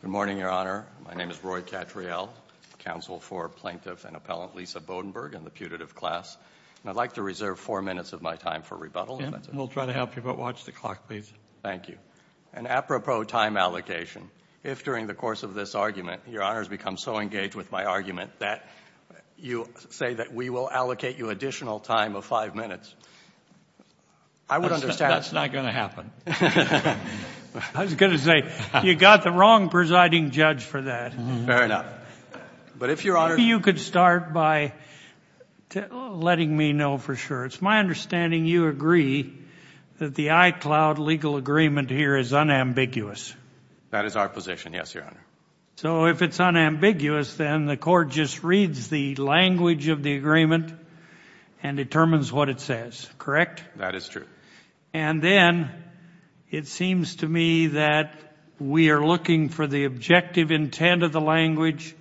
Good morning, Your Honor. My name is Roy Cattriel, counsel for Plaintiff and Appellant Lisa Bodenburg in the putative class. And I'd like to reserve four minutes of my time for rebuttal. We'll try to help you, but watch the clock, please. Thank you. And apropos time allocation, if during the course of this argument, Your Honor has become so engaged with my argument that you say that we will allocate you additional time of five minutes, I would understand. That's not going to happen. I was going to say, you got the wrong presiding judge for that. Fair enough. But if Your Honor... If you could start by letting me know for sure. It's my understanding you agree that the iCloud legal agreement here is unambiguous. That is our position, yes, Your Honor. So if it's unambiguous, then the court just reads the language of the agreement and determines what it says, correct? That is true. And then it seems to me that we are looking for the objective intent of the language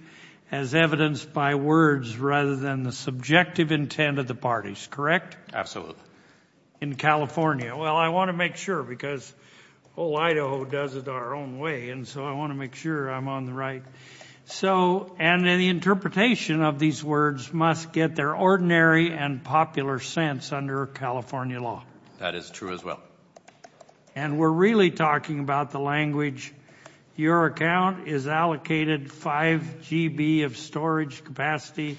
as evidenced by words rather than the subjective intent of the parties, correct? In California. Well, I want to make sure because whole Idaho does it our own way, and so I want to make sure I'm on the right. So and the interpretation of these words must get their ordinary and popular sense under California law. That is true as well. And we're really talking about the language, your account is allocated 5 GB of storage capacity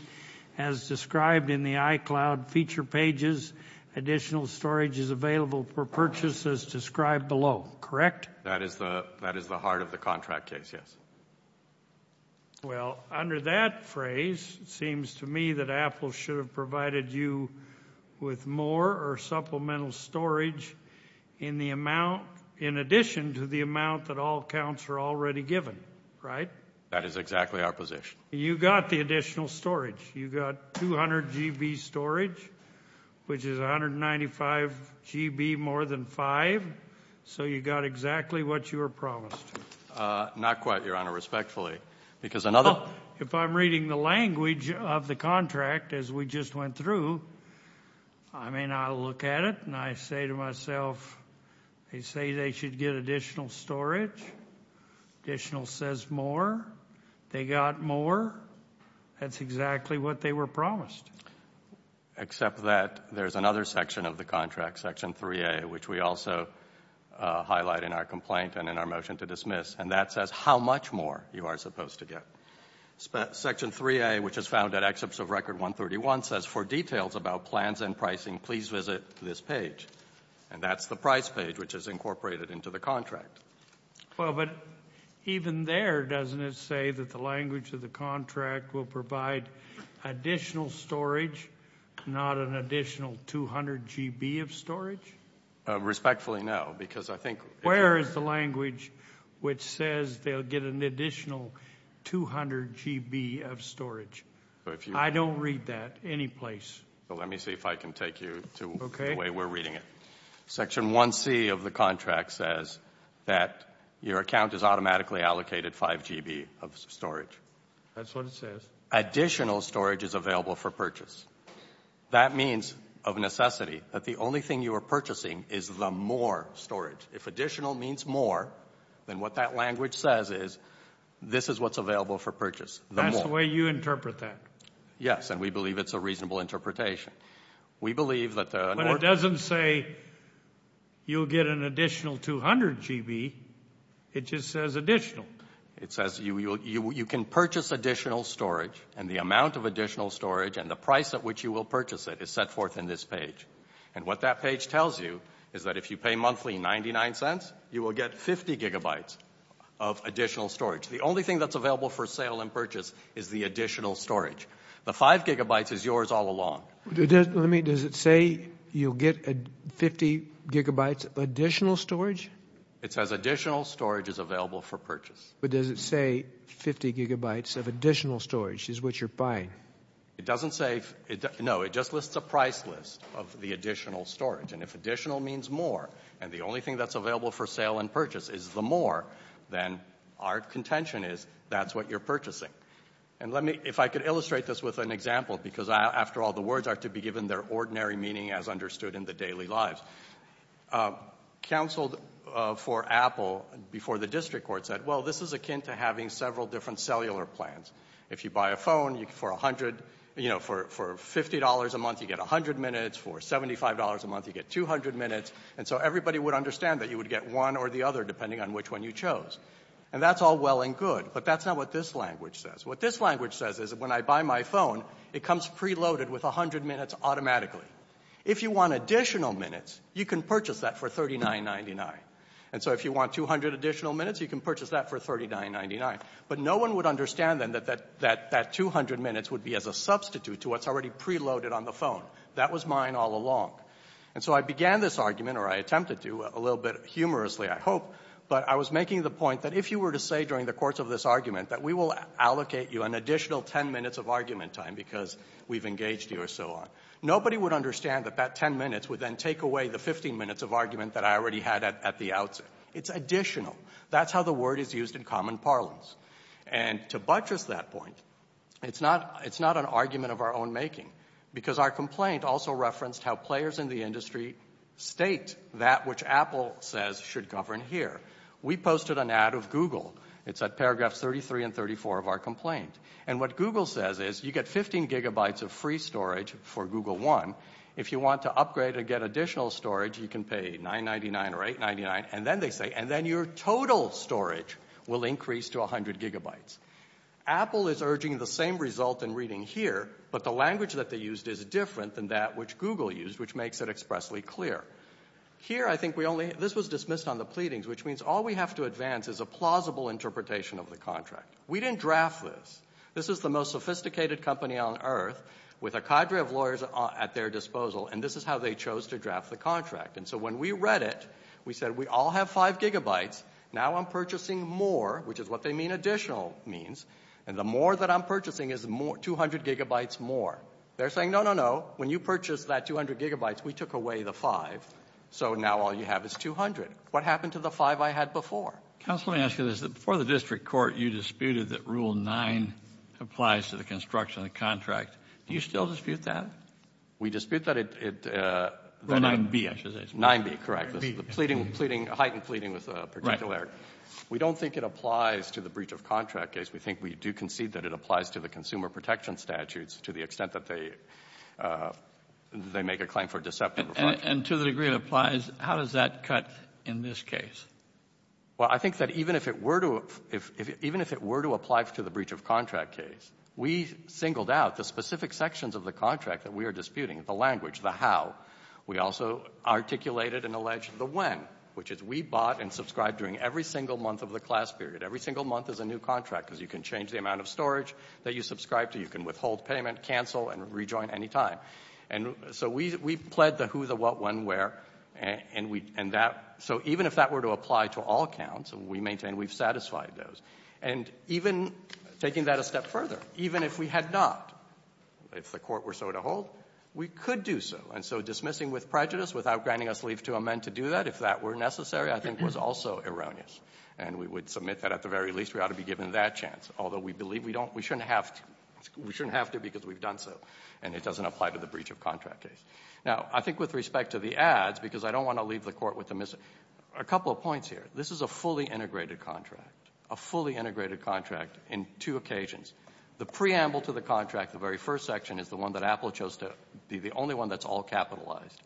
as described in the iCloud feature pages. Additional storage is available for purchase as described below, correct? That is the heart of the contract case, yes. Well, under that phrase, it seems to me that Apple should have provided you with more or less supplemental storage in the amount, in addition to the amount that all counts are already given, right? That is exactly our position. You got the additional storage. You got 200 GB storage, which is 195 GB more than 5. So you got exactly what you were promised. Not quite, your honor, respectfully, because another. Well, if I'm reading the language of the contract as we just went through, I mean, I'll look at it and I say to myself, they say they should get additional storage. Additional says more. They got more. That's exactly what they were promised. Except that there's another section of the contract, section 3A, which we also highlight in our complaint and in our motion to dismiss, and that says how much more you are supposed to get. Section 3A, which is found at excerpts of record 131, says for details about plans and pricing, please visit this page. And that's the price page, which is incorporated into the contract. Well, but even there, doesn't it say that the language of the contract will provide additional storage, not an additional 200 GB of storage? Respectfully no, because I think. Where is the language which says they'll get an additional 200 GB of storage? I don't read that any place. Let me see if I can take you to the way we're reading it. Section 1C of the contract says that your account is automatically allocated 5 GB of That's what it says. Additional storage is available for purchase. That means of necessity that the only thing you are purchasing is the more storage. If additional means more, then what that language says is, this is what's available for purchase. That's the way you interpret that. Yes, and we believe it's a reasonable interpretation. We believe that the. But it doesn't say you'll get an additional 200 GB. It just says additional. It says you can purchase additional storage and the amount of additional storage and the price at which you will purchase it is set forth in this page. And what that page tells you is that if you pay monthly 99 cents, you will get 50 GB of additional storage. The only thing that's available for sale and purchase is the additional storage. The 5 GB is yours all along. Does it say you'll get 50 GB additional storage? It says additional storage is available for purchase. But does it say 50 GB of additional storage is what you're buying? It doesn't say. No, it just lists a price list of the additional storage. And if additional means more, and the only thing that's available for sale and purchase is the more, then our contention is that's what you're purchasing. And let me, if I could illustrate this with an example, because after all, the words are to be given their ordinary meaning as understood in the daily lives. Counseled for Apple before the district court said, well, this is akin to having several different cellular plans. If you buy a phone, for $50 a month, you get 100 minutes. For $75 a month, you get 200 minutes. And so everybody would understand that you would get one or the other depending on which one you chose. And that's all well and good, but that's not what this language says. What this language says is that when I buy my phone, it comes preloaded with 100 minutes automatically. If you want additional minutes, you can purchase that for $39.99. And so if you want 200 additional minutes, you can purchase that for $39.99. But no one would understand, then, that that 200 minutes would be as a substitute to what's already preloaded on the phone. That was mine all along. And so I began this argument, or I attempted to, a little bit humorously, I hope, but I was making the point that if you were to say during the course of this argument that we will allocate you an additional 10 minutes of argument time because we've engaged you or so on, nobody would understand that that 10 minutes would then take away the 15 minutes of argument that I already had at the outset. It's additional. That's how the word is used in common parlance. And to buttress that point, it's not an argument of our own making because our complaint also referenced how players in the industry state that which Apple says should govern here. We posted an ad of Google. It's at paragraphs 33 and 34 of our complaint. And what Google says is you get 15 gigabytes of free storage for Google One. If you want to upgrade and get additional storage, you can pay $9.99 or $8.99. And then they say, and then your total storage will increase to 100 gigabytes. Apple is urging the same result in reading here, but the language that they used is different than that which Google used, which makes it expressly clear. Here I think we only, this was dismissed on the pleadings, which means all we have to advance is a plausible interpretation of the contract. We didn't draft this. This is the most sophisticated company on earth with a cadre of lawyers at their disposal, and this is how they chose to draft the contract. And so when we read it, we said, we all have five gigabytes. Now I'm purchasing more, which is what they mean, additional means. And the more that I'm purchasing is 200 gigabytes more. They're saying, no, no, no. When you purchase that 200 gigabytes, we took away the five. So now all you have is 200. What happened to the five I had before? Counsel, let me ask you this. Before the district court, you disputed that Rule 9 applies to the construction of the Do you still dispute that? We dispute that. Rule 9B, I should say. 9B, correct. Pleading, pleading, heightened pleading with a particular. We don't think it applies to the breach of contract case. We think we do concede that it applies to the consumer protection statutes to the extent that they, they make a claim for deceptive. And to the degree it applies, how does that cut in this case? Well, I think that even if it were to, even if it were to apply to the breach of contract case, we singled out the specific sections of the contract that we are disputing, the language, the how. We also articulated and alleged the when, which is we bought and subscribed during every single month of the class period. Every single month is a new contract because you can change the amount of storage that you subscribe to. You can withhold payment, cancel, and rejoin any time. And so we, we pled the who, the what, when, where, and we, and that, so even if that were to apply to all counts, we maintain we've satisfied those. And even taking that a step further, even if we had not, if the court were so to hold, we could do so. And so dismissing with prejudice without granting us leave to amend to do that, if that were necessary, I think was also erroneous. And we would submit that at the very least we ought to be given that chance. Although we believe we don't, we shouldn't have to, we shouldn't have to because we've done so. And it doesn't apply to the breach of contract case. Now I think with respect to the ads, because I don't want to leave the court with a, a couple of points here. This is a fully integrated contract, a fully integrated contract in two occasions. The preamble to the contract, the very first section, is the one that Apple chose to be the only one that's all capitalized.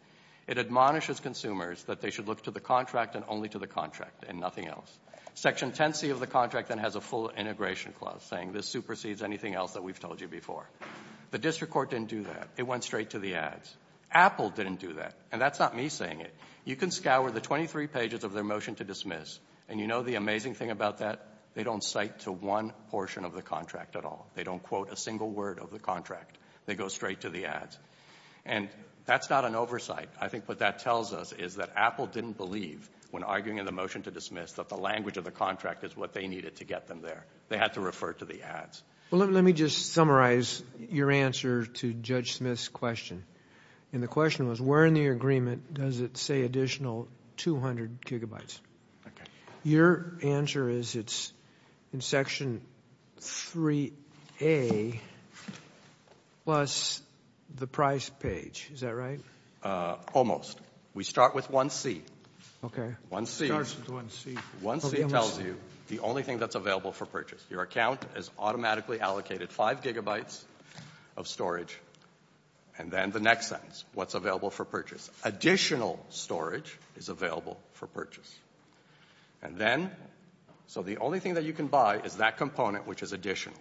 It admonishes consumers that they should look to the contract and only to the contract and nothing else. Section 10C of the contract then has a full integration clause saying this supersedes anything else that we've told you before. The district court didn't do that. It went straight to the ads. Apple didn't do that. And that's not me saying it. You can scour the 23 pages of their motion to dismiss, and you know the amazing thing about that? They don't cite to one portion of the contract at all. They don't quote a single word of the contract. They go straight to the ads. And that's not an oversight. I think what that tells us is that Apple didn't believe when arguing in the motion to dismiss that the language of the contract is what they needed to get them there. They had to refer to the ads. Well, let, let me just summarize your answer to Judge Smith's question. And the question was, where in the agreement does it say additional 200 gigabytes? Okay. Your answer is it's in Section 3A plus the price page. Is that right? Almost. We start with 1C. Okay. 1C. It starts with 1C. 1C tells you the only thing that's available for purchase. Your account is automatically allocated 5 gigabytes of storage. And then the next sentence, what's available for purchase. Additional storage is available for purchase. And then, so the only thing that you can buy is that component which is additional.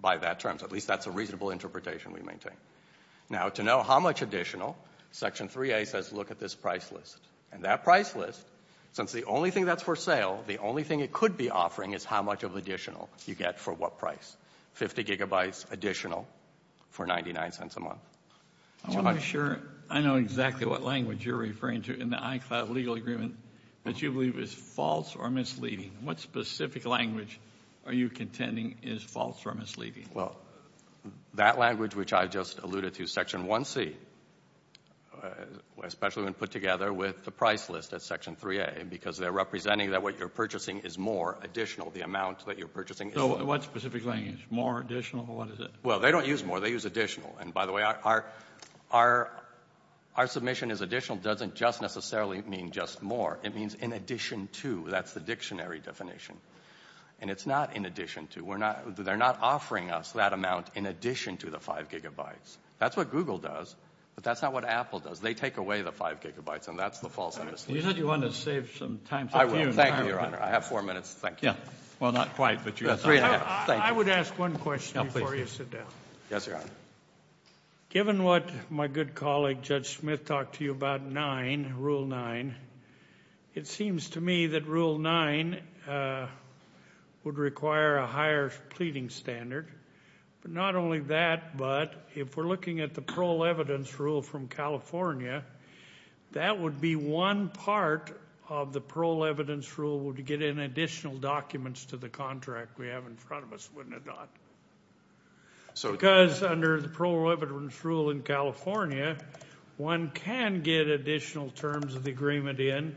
By that term, at least that's a reasonable interpretation we maintain. Now, to know how much additional, Section 3A says look at this price list. And that price list, since the only thing that's for sale, the only thing it could be offering, is how much of additional you get for what price. 50 gigabytes additional for 99 cents a month. I'm not sure I know exactly what language you're referring to in the ICLAB legal agreement that you believe is false or misleading. What specific language are you contending is false or misleading? Well, that language which I just alluded to, Section 1C, especially when put together with the price list at Section 3A because they're representing that what you're purchasing is more additional, the amount that you're purchasing. So what specific language? More additional? What is it? Well, they don't use more. They use additional. And by the way, our submission is additional doesn't just necessarily mean just more. It means in addition to. That's the dictionary definition. And it's not in addition to. They're not offering us that amount in addition to the 5 gigabytes. That's what Google does. But that's not what Apple does. They take away the 5 gigabytes. And that's the false or misleading. You said you wanted to save some time. I will. Thank you, Your Honor. I have four minutes. Thank you. Yeah. Well, not quite, but you have three minutes. I would ask one question before you sit down. Yes, Your Honor. Given what my good colleague, Judge Smith, talked to you about 9, Rule 9, it seems to me that Rule 9 would require a higher pleading standard. But not only that, but if we're looking at the parole evidence rule from California, that would be one part of the parole evidence rule would get in additional documents to the contract we have in front of us, wouldn't it not? Because under the parole evidence rule in California, one can get additional terms of the agreement in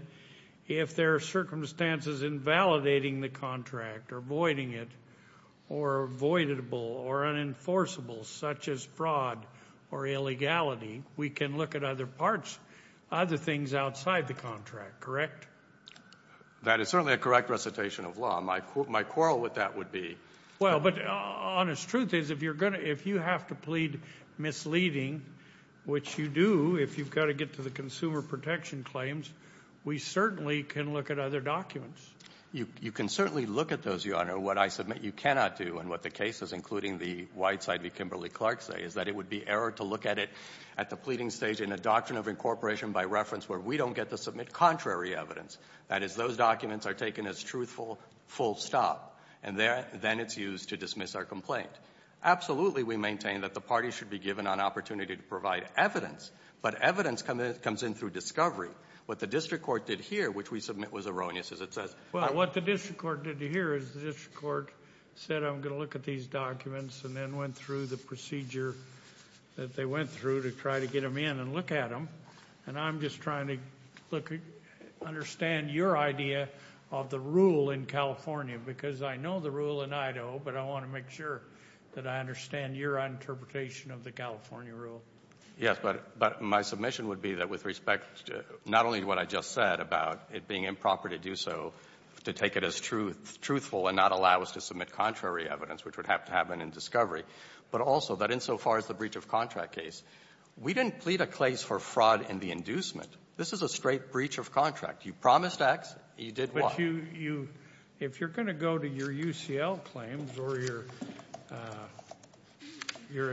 if there are circumstances invalidating the contract or voiding it or voidable or unenforceable, such as fraud or illegality. We can look at other parts, other things outside the contract, correct? That is certainly a correct recitation of law. My quarrel with that would be... Well, but honest truth is, if you have to plead misleading, which you do if you've got to get to the consumer protection claims, we certainly can look at other documents. You can certainly look at those, Your Honor. What I submit you cannot do, and what the cases, including the Whiteside v. Kimberly-Clark say, is that it would be error to look at it at the pleading stage in a doctrine of incorporation by reference where we don't get to submit contrary evidence. That is, those documents are taken as truthful, full stop, and then it's used to dismiss our complaint. Absolutely, we maintain that the parties should be given an opportunity to provide evidence, but evidence comes in through discovery. What the district court did here, which we submit was erroneous as it says... Well, what the district court did here is the district court said, I'm going to look at these documents, and then went through the procedure that they went through to try to get them in and look at them. And I'm just trying to understand your idea of the rule in California, because I know the rule in Idaho, but I want to make sure that I understand your interpretation of the California rule. Yes, but my submission would be that with respect to not only what I just said about it being improper to do so, to take it as truthful and not allow us to submit contrary evidence, which would have to happen in discovery, but also that insofar as the breach of contract case, we didn't plead a case for fraud in the inducement. This is a straight breach of contract. You promised X, you did Y. But if you're going to go to your UCL claims or your,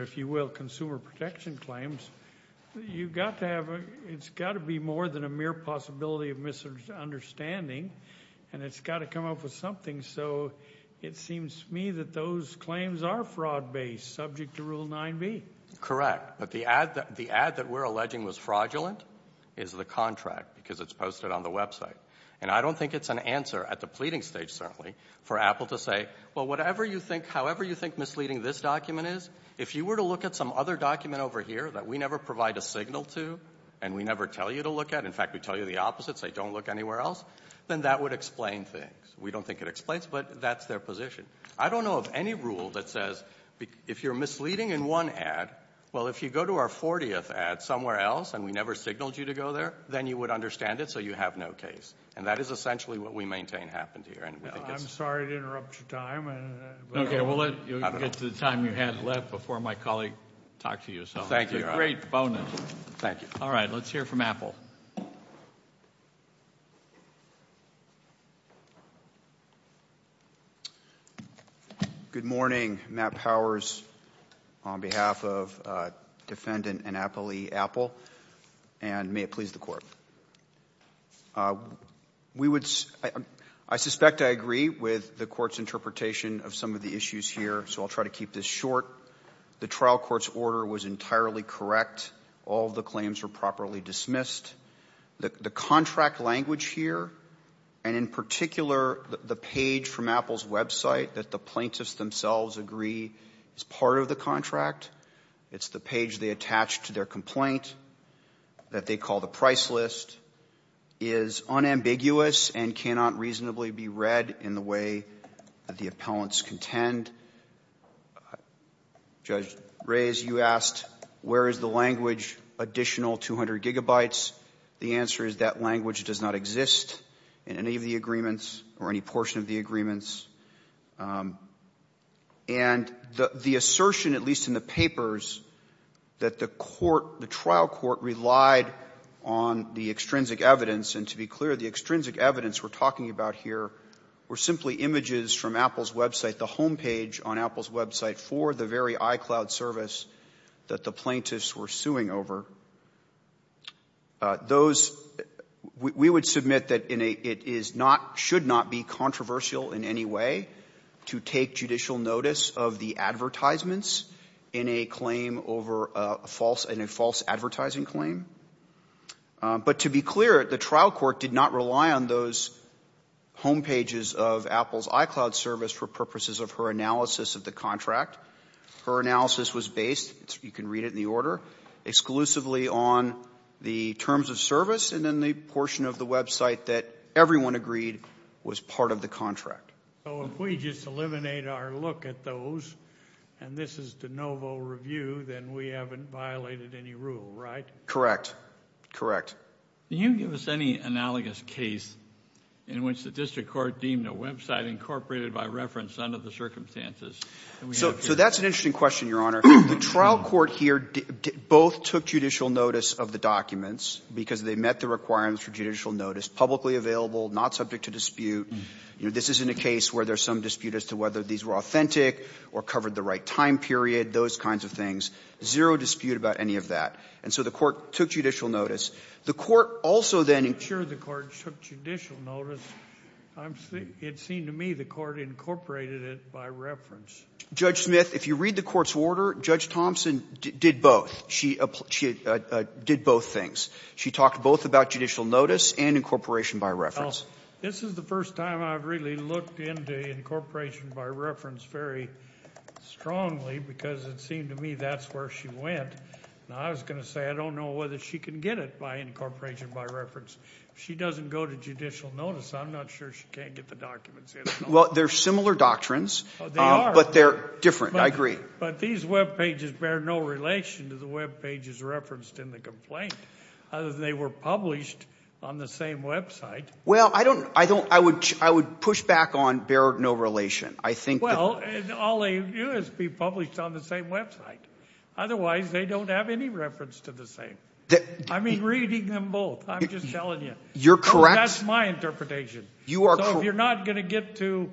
if you will, consumer protection claims, you've got to have... It's got to be more than a mere possibility of misunderstanding, and it's got to come up with something. So it seems to me that those claims are fraud based, subject to Rule 9B. Correct. But the ad that we're alleging was fraudulent is the contract, because it's posted on the website. And I don't think it's an answer at the pleading stage, certainly, for Apple to say, well, whatever you think, however you think misleading this document is, if you were to look at some other document over here that we never provide a signal to, and we never tell you to look at, in fact, we tell you the opposite, say don't look anywhere else, then that would explain things. We don't think it explains, but that's their position. I don't know of any rule that says, if you're misleading in one ad, well, if you go to our 40th ad somewhere else, and we never signaled you to go there, then you would understand it, so you have no case. And that is essentially what we maintain happened here. I'm sorry to interrupt your time. Okay, we'll let you get to the time you had left before my colleague talked to you. Thank you. It's a great bonus. Thank you. All right, let's hear from Apple. Good morning. Matt Powers on behalf of Defendant Annapoli Apple, and may it please the Court. We would, I suspect I agree with the Court's interpretation of some of the issues here, so I'll try to keep this short. The trial court's order was entirely correct. All of the claims were properly dismissed. The contract language here, and in particular, the page from Apple's website that the plaintiffs themselves agree is part of the contract, it's the page they attached to their complaint that they call the price list, is unambiguous and cannot reasonably be read in the way that the appellants contend. And Judge Reyes, you asked where is the language additional 200 gigabytes. The answer is that language does not exist in any of the agreements or any portion of the agreements. And the assertion, at least in the papers, that the court, the trial court relied on the extrinsic evidence, and to be clear, the extrinsic evidence we're talking about here were simply images from Apple's website, the homepage on Apple's website for the very iCloud service that the plaintiffs were suing over. Those, we would submit that it is not, should not be controversial in any way to take judicial notice of the advertisements in a claim over a false, in a false advertising claim. But to be clear, the trial court did not rely on those homepages of Apple's iCloud service for purposes of her analysis of the contract. Her analysis was based, you can read it in the order, exclusively on the terms of service and then the portion of the website that everyone agreed was part of the contract. So if we just eliminate our look at those, and this is de novo review, then we haven't violated any rule, right? Correct. Correct. Can you give us any analogous case in which the district court deemed a website incorporated by reference under the circumstances? So that's an interesting question, Your Honor. The trial court here both took judicial notice of the documents because they met the requirements for judicial notice, publicly available, not subject to dispute. This isn't a case where there's some dispute as to whether these were authentic or covered the right time period, those kinds of things. Zero dispute about any of that. And so the court took judicial notice. The court also then ensured the court took judicial notice. It seemed to me the court incorporated it by reference. Judge Smith, if you read the court's order, Judge Thompson did both. She did both things. She talked both about judicial notice and incorporation by reference. This is the first time I've really looked into incorporation by reference very strongly because it seemed to me that's where she went. Now, I was going to say I don't know whether she can get it by incorporation by reference. If she doesn't go to judicial notice, I'm not sure she can't get the documents in. Well, they're similar doctrines. They are. But they're different. I agree. But these webpages bear no relation to the webpages referenced in the complaint other than they were published on the same website. Well, I don't – I don't – I would push back on bear no relation. I think the – Well, all they do is be published on the same website. Otherwise, they don't have any reference to the same. I mean reading them both. I'm just telling you. You're correct. That's my interpretation. You are correct. So if you're not going to get to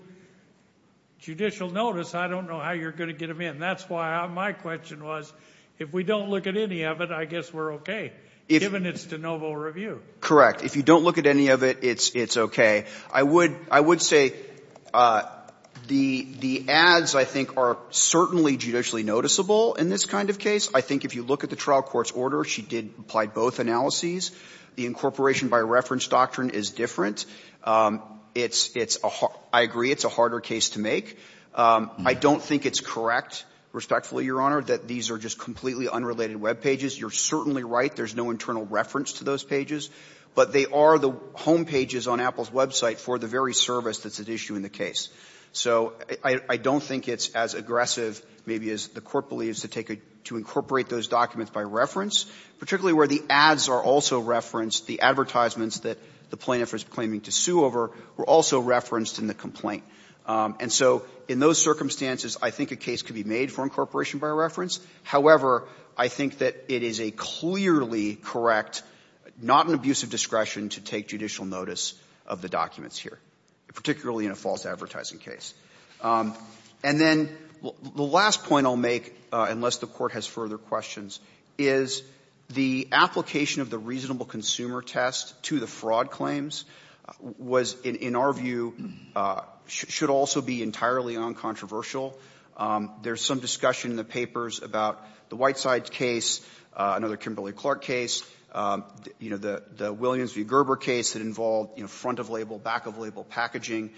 judicial notice, I don't know how you're going to get them in. That's why my question was if we don't look at any of it, I guess we're okay, given it's de novo review. Correct. If you don't look at any of it, it's okay. I would – I would say the ads, I think, are certainly judicially noticeable in this kind of case. I think if you look at the trial court's order, she did apply both analyses. The incorporation by reference doctrine is different. It's a – I agree it's a harder case to make. I don't think it's correct, respectfully, Your Honor, that these are just completely unrelated webpages. You're certainly right. There's no internal reference to those pages. But they are the homepages on Apple's website for the very service that's at issue in the case. So I don't think it's as aggressive, maybe, as the Court believes to take a – to incorporate those documents by reference, particularly where the ads are also referenced. The advertisements that the plaintiff is claiming to sue over were also referenced in the complaint. And so in those circumstances, I think a case could be made for incorporation by reference. However, I think that it is a clearly correct, not an abuse of discretion to take judicial notice of the documents here, particularly in a false advertising case. And then the last point I'll make, unless the Court has further questions, is the application of the reasonable consumer test to the fraud claims was, in our view, should also be entirely uncontroversial. There's some discussion in the papers about the Whiteside case, another Kimberly Clark case, you know, the Williams v. Gerber case that involved, you know, front of label, back of label packaging.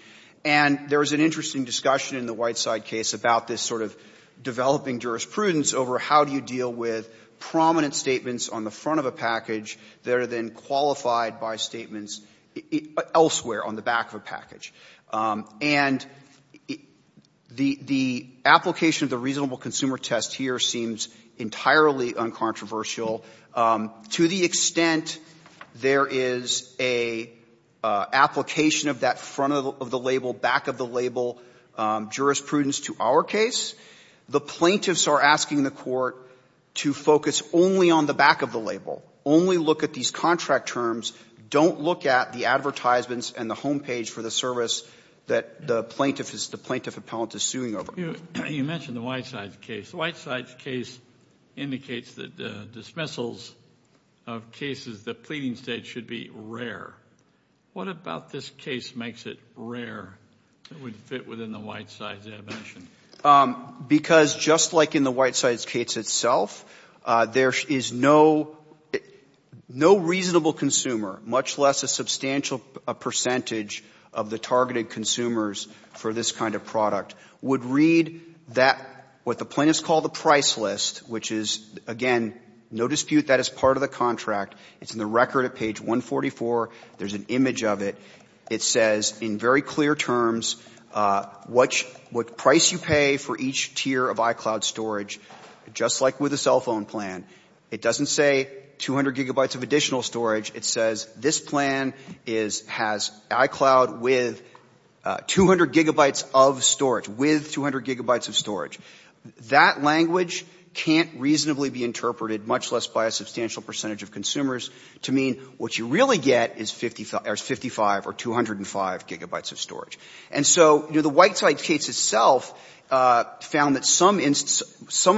And there was an interesting discussion in the Whiteside case about this sort of developing jurisprudence over how do you deal with prominent statements on the front of a package that are then qualified by statements elsewhere on the back of a package. And the application of the reasonable consumer test here seems entirely uncontroversial. To the extent there is an application of that front of the label, back of the label jurisprudence to our case, the plaintiffs are asking the Court to focus only on the back of the label, only look at these contract terms, don't look at the advertisements and the home page for the service that the plaintiff is, the plaintiff appellant is suing over. You mentioned the Whiteside case. The Whiteside case indicates that dismissals of cases, the pleading stage, should be rare. What about this case makes it rare? It would fit within the Whiteside dimension. Because just like in the Whiteside case itself, there is no reasonable consumer, much less a substantial percentage of the targeted consumers for this kind of product. Would read that what the plaintiffs call the price list, which is, again, no dispute that is part of the contract. It's in the record at page 144. There's an image of it. It says in very clear terms what price you pay for each tier of iCloud storage, just like with a cell phone plan. It doesn't say 200 gigabytes of additional storage. It says this plan is, has iCloud with 200 gigabytes of storage, with 200 gigabytes of storage. That language can't reasonably be interpreted, much less by a substantial percentage of consumers, to mean what you really get is 55 or 205 gigabytes of storage. And so, you know, the Whiteside case itself found that some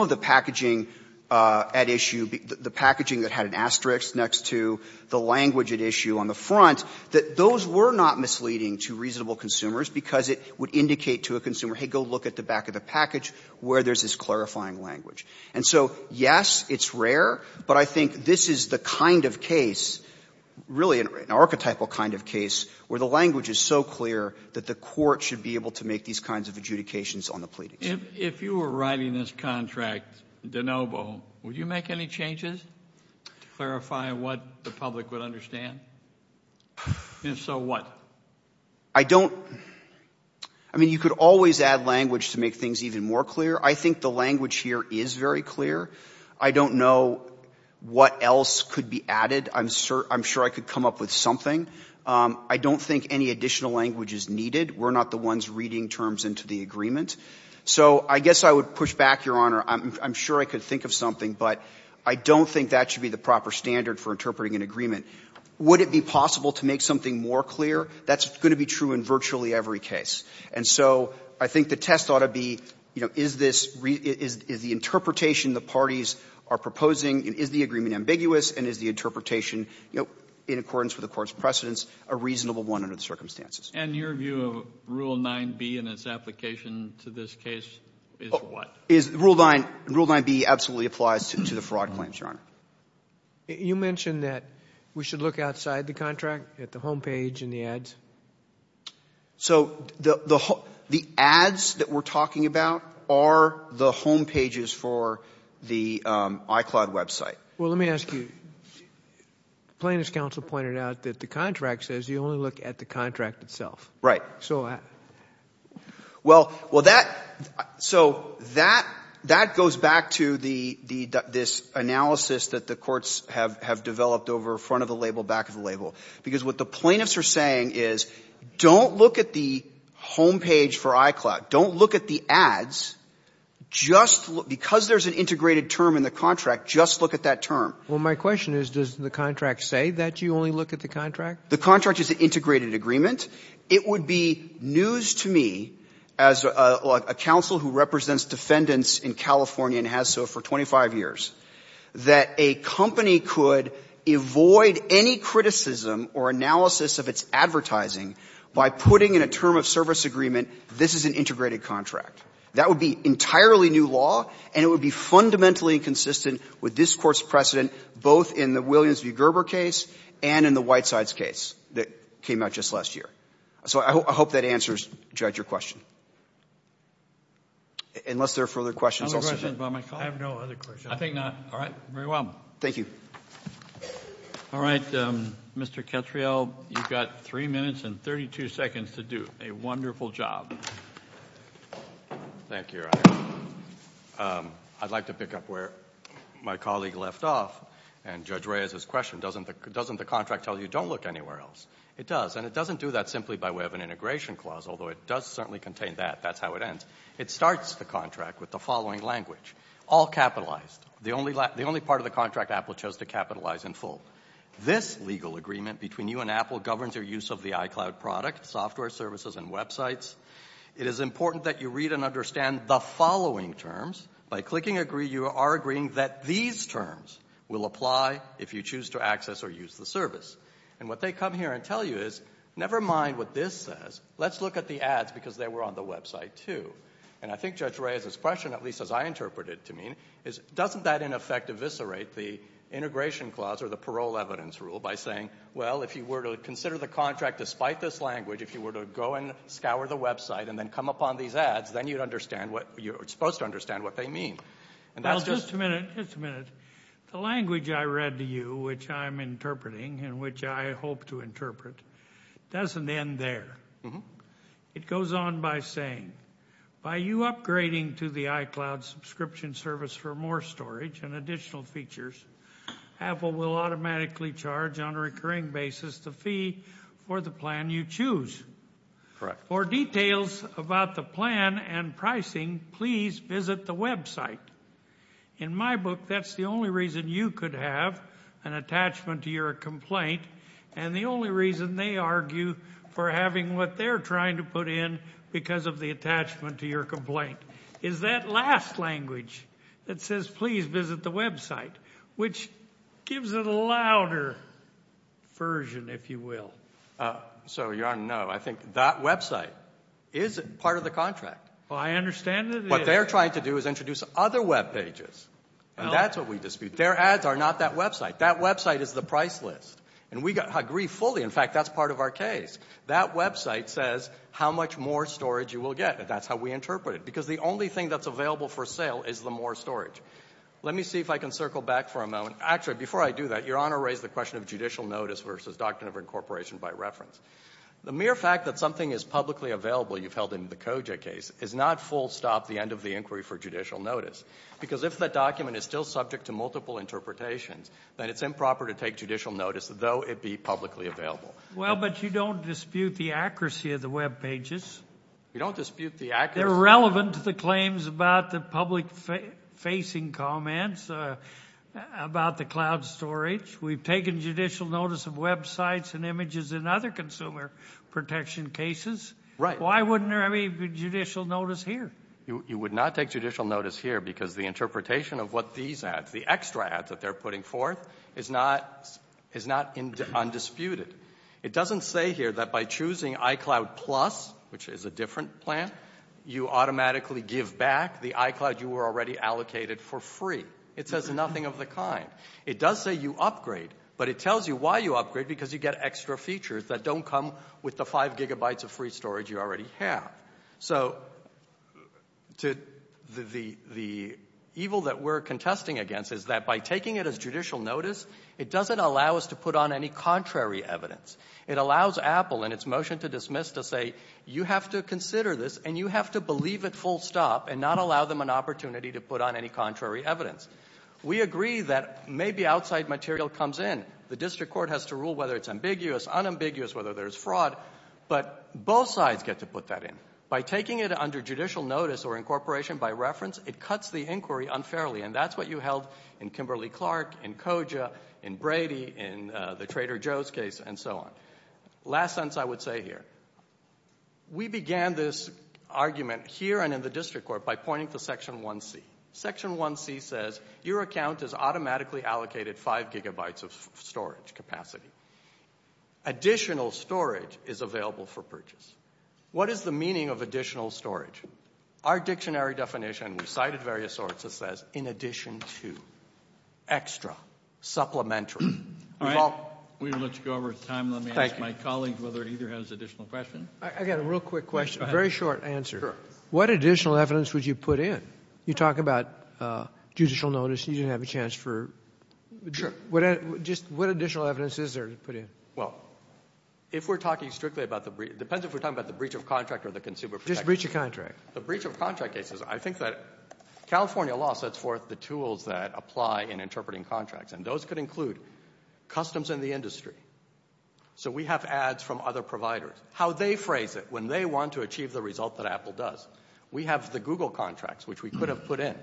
of the packaging at issue the packaging that had an asterisk next to the language at issue on the front, that those were not misleading to reasonable consumers because it would indicate to a consumer, hey, go look at the back of the package where there's this clarifying language. And so, yes, it's rare, but I think this is the kind of case, really an archetypal kind of case, where the language is so clear that the court should be able to make these kinds of adjudications on the pleadings. If you were writing this contract, De Novo, would you make any changes to clarify what the public would understand? If so, what? I don't, I mean, you could always add language to make things even more clear. I think the language here is very clear. I don't know what else could be added. I'm sure I could come up with something. I don't think any additional language is needed. We're not the ones reading terms into the agreement. So I guess I would push back, Your Honor. I'm sure I could think of something, but I don't think that should be the proper standard for interpreting an agreement. Would it be possible to make something more clear? That's going to be true in virtually every case. And so I think the test ought to be, you know, is this, is the interpretation the parties are proposing, is the agreement ambiguous, and is the interpretation, you know, in accordance with the Court's precedents, a reasonable one under the circumstances? And your view of Rule 9b and its application to this case is what? Rule 9b absolutely applies to the fraud claims, Your Honor. You mentioned that we should look outside the contract, at the homepage and the ads. So the ads that we're talking about are the homepages for the iCloud website. Well, let me ask you. Plaintiff's counsel pointed out that the contract says you only look at the contract itself. Right. So that goes back to this analysis that the courts have developed over front of the label, back of the label. Because what the plaintiffs are saying is, don't look at the homepage for iCloud. Don't look at the ads. Just look, because there's an integrated term in the contract, just look at that term. Well, my question is, does the contract say that you only look at the contract? The contract is an integrated agreement. It would be news to me, as a counsel who represents defendants in California and has so for 25 years, that a company could avoid any criticism or analysis of its advertising by putting in a term of service agreement, this is an integrated contract. That would be entirely new law, and it would be fundamentally inconsistent with this Court's precedent, both in the Williams v. Gerber case and in the Whitesides case that came out just last year. So I hope that answers, Judge, your question. Unless there are further questions. I have no other questions. I think not. All right. Very well. Thank you. All right. Mr. Ketriel, you've got 3 minutes and 32 seconds to do a wonderful job. Thank you, Your Honor. I'd like to pick up where my colleague left off, and Judge Reyes's question. Doesn't the contract tell you don't look anywhere else? It does. And it doesn't do that simply by way of an integration clause, although it does certainly contain that. That's how it ends. It starts the contract with the following language. All capitalized. The only part of the contract Apple chose to capitalize in full. This legal agreement between you and Apple governs your use of the iCloud product, software, services, and websites. It is important that you read and understand the following terms. By clicking agree, you are agreeing that these terms will apply if you choose to access or use the service. And what they come here and tell you is, never mind what this says. Let's look at the ads because they were on the website, too. And I think Judge Reyes's question, at least as I interpret it to me, is doesn't that in effect eviscerate the integration clause or the parole evidence rule by saying, well, if you were to consider the contract despite this language, if you were to go and scour the website and then come upon these ads, then you'd understand what, you're supposed to understand what they mean. Well, just a minute, just a minute. The language I read to you, which I'm interpreting and which I hope to interpret, doesn't end there. It goes on by saying, by you upgrading to the iCloud subscription service for more storage and additional features, Apple will automatically charge on a recurring basis the fee for the plan you choose. Correct. For details about the plan and pricing, please visit the website. In my book, that's the only reason you could have an attachment to your complaint and the only reason they argue for having what they're trying to put in because of the attachment to your complaint is that last language that says, please visit the website, which gives it a louder version, if you will. So, Your Honor, no, I think that website is part of the contract. Well, I understand that it is. What they're trying to do is introduce other webpages. And that's what we dispute. Their ads are not that website. That website is the price list. And we agree fully, in fact, that's part of our case. That website says how much more storage you will get. That's how we interpret it. Because the only thing that's available for sale is the more storage. Let me see if I can circle back for a moment. Actually, before I do that, Your Honor raised the question of judicial notice versus Doctrine of Incorporation by reference. The mere fact that something is publicly available, you've held in the COJA case, is not full stop the end of the inquiry for judicial notice. Because if the document is still subject to multiple interpretations, then it's improper to take judicial notice, though it be publicly available. Well, but you don't dispute the accuracy of the webpages. We don't dispute the accuracy. They're relevant to the claims about the public-facing comments about the cloud storage. We've taken judicial notice of websites and images in other consumer protection cases. Right. Why wouldn't there be judicial notice here? You would not take judicial notice here because the interpretation of what these ads, the extra ads that they're putting forth, is not undisputed. It doesn't say here that by choosing iCloud Plus, which is a different plan, you automatically give back the iCloud you were already allocated for free. It says nothing of the kind. It does say you upgrade, but it tells you why you upgrade, because you get extra features that don't come with the 5 gigabytes of free storage you already have. So the evil that we're contesting against is that by taking it as judicial notice, it doesn't allow us to put on any contrary evidence. It allows Apple, in its motion to dismiss, to say you have to consider this and you have to believe it full stop and not allow them an opportunity to put on any contrary evidence. We agree that maybe outside material comes in. The district court has to rule whether it's ambiguous, unambiguous, whether there's fraud. But both sides get to put that in. By taking it under judicial notice or incorporation by reference, it cuts the inquiry unfairly. And that's what you held in Kimberly-Clark, in Koja, in Brady, in the Trader Joe's case, and so on. Last sentence I would say here. We began this argument here and in the district court by pointing to Section 1C. Section 1C says your account is automatically allocated 5 gigabytes of storage capacity. Additional storage is available for purchase. What is the meaning of additional storage? Our dictionary definition, we cited various sources, says in addition to, extra, supplementary. All right. We will let you go over time. Let me ask my colleagues whether it either has additional questions. I got a real quick question, a very short answer. Sure. What additional evidence would you put in? You talk about judicial notice. You didn't have a chance for. Sure. What additional evidence is there? Well, if we're talking strictly about the breach, it depends if we're talking about the breach of contract or the consumer protection. Just breach of contract. The breach of contract cases. I think that California law sets forth the tools that apply in interpreting contracts. And those could include customs in the industry. So we have ads from other providers. How they phrase it when they want to achieve the result that Apple does. We have the Google contracts, which we could have put in.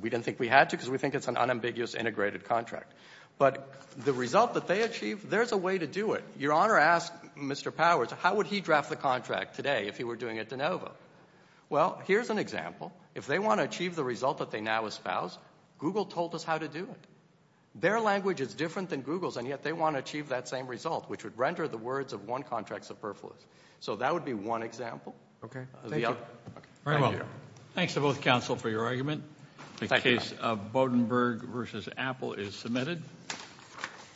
We didn't think we had to because we think it's an unambiguous integrated contract. But the result that they achieve, there's a way to do it. Your Honor asked Mr. Powers, how would he draft the contract today if he were doing it de novo? Well, here's an example. If they want to achieve the result that they now espouse, Google told us how to do it. Their language is different than Google's, and yet they want to achieve that same result, which would render the words of one contract superfluous. So that would be one example. Okay. Thank you. Thanks to both counsel for your argument. The case of Bodenberg v. Apple is submitted.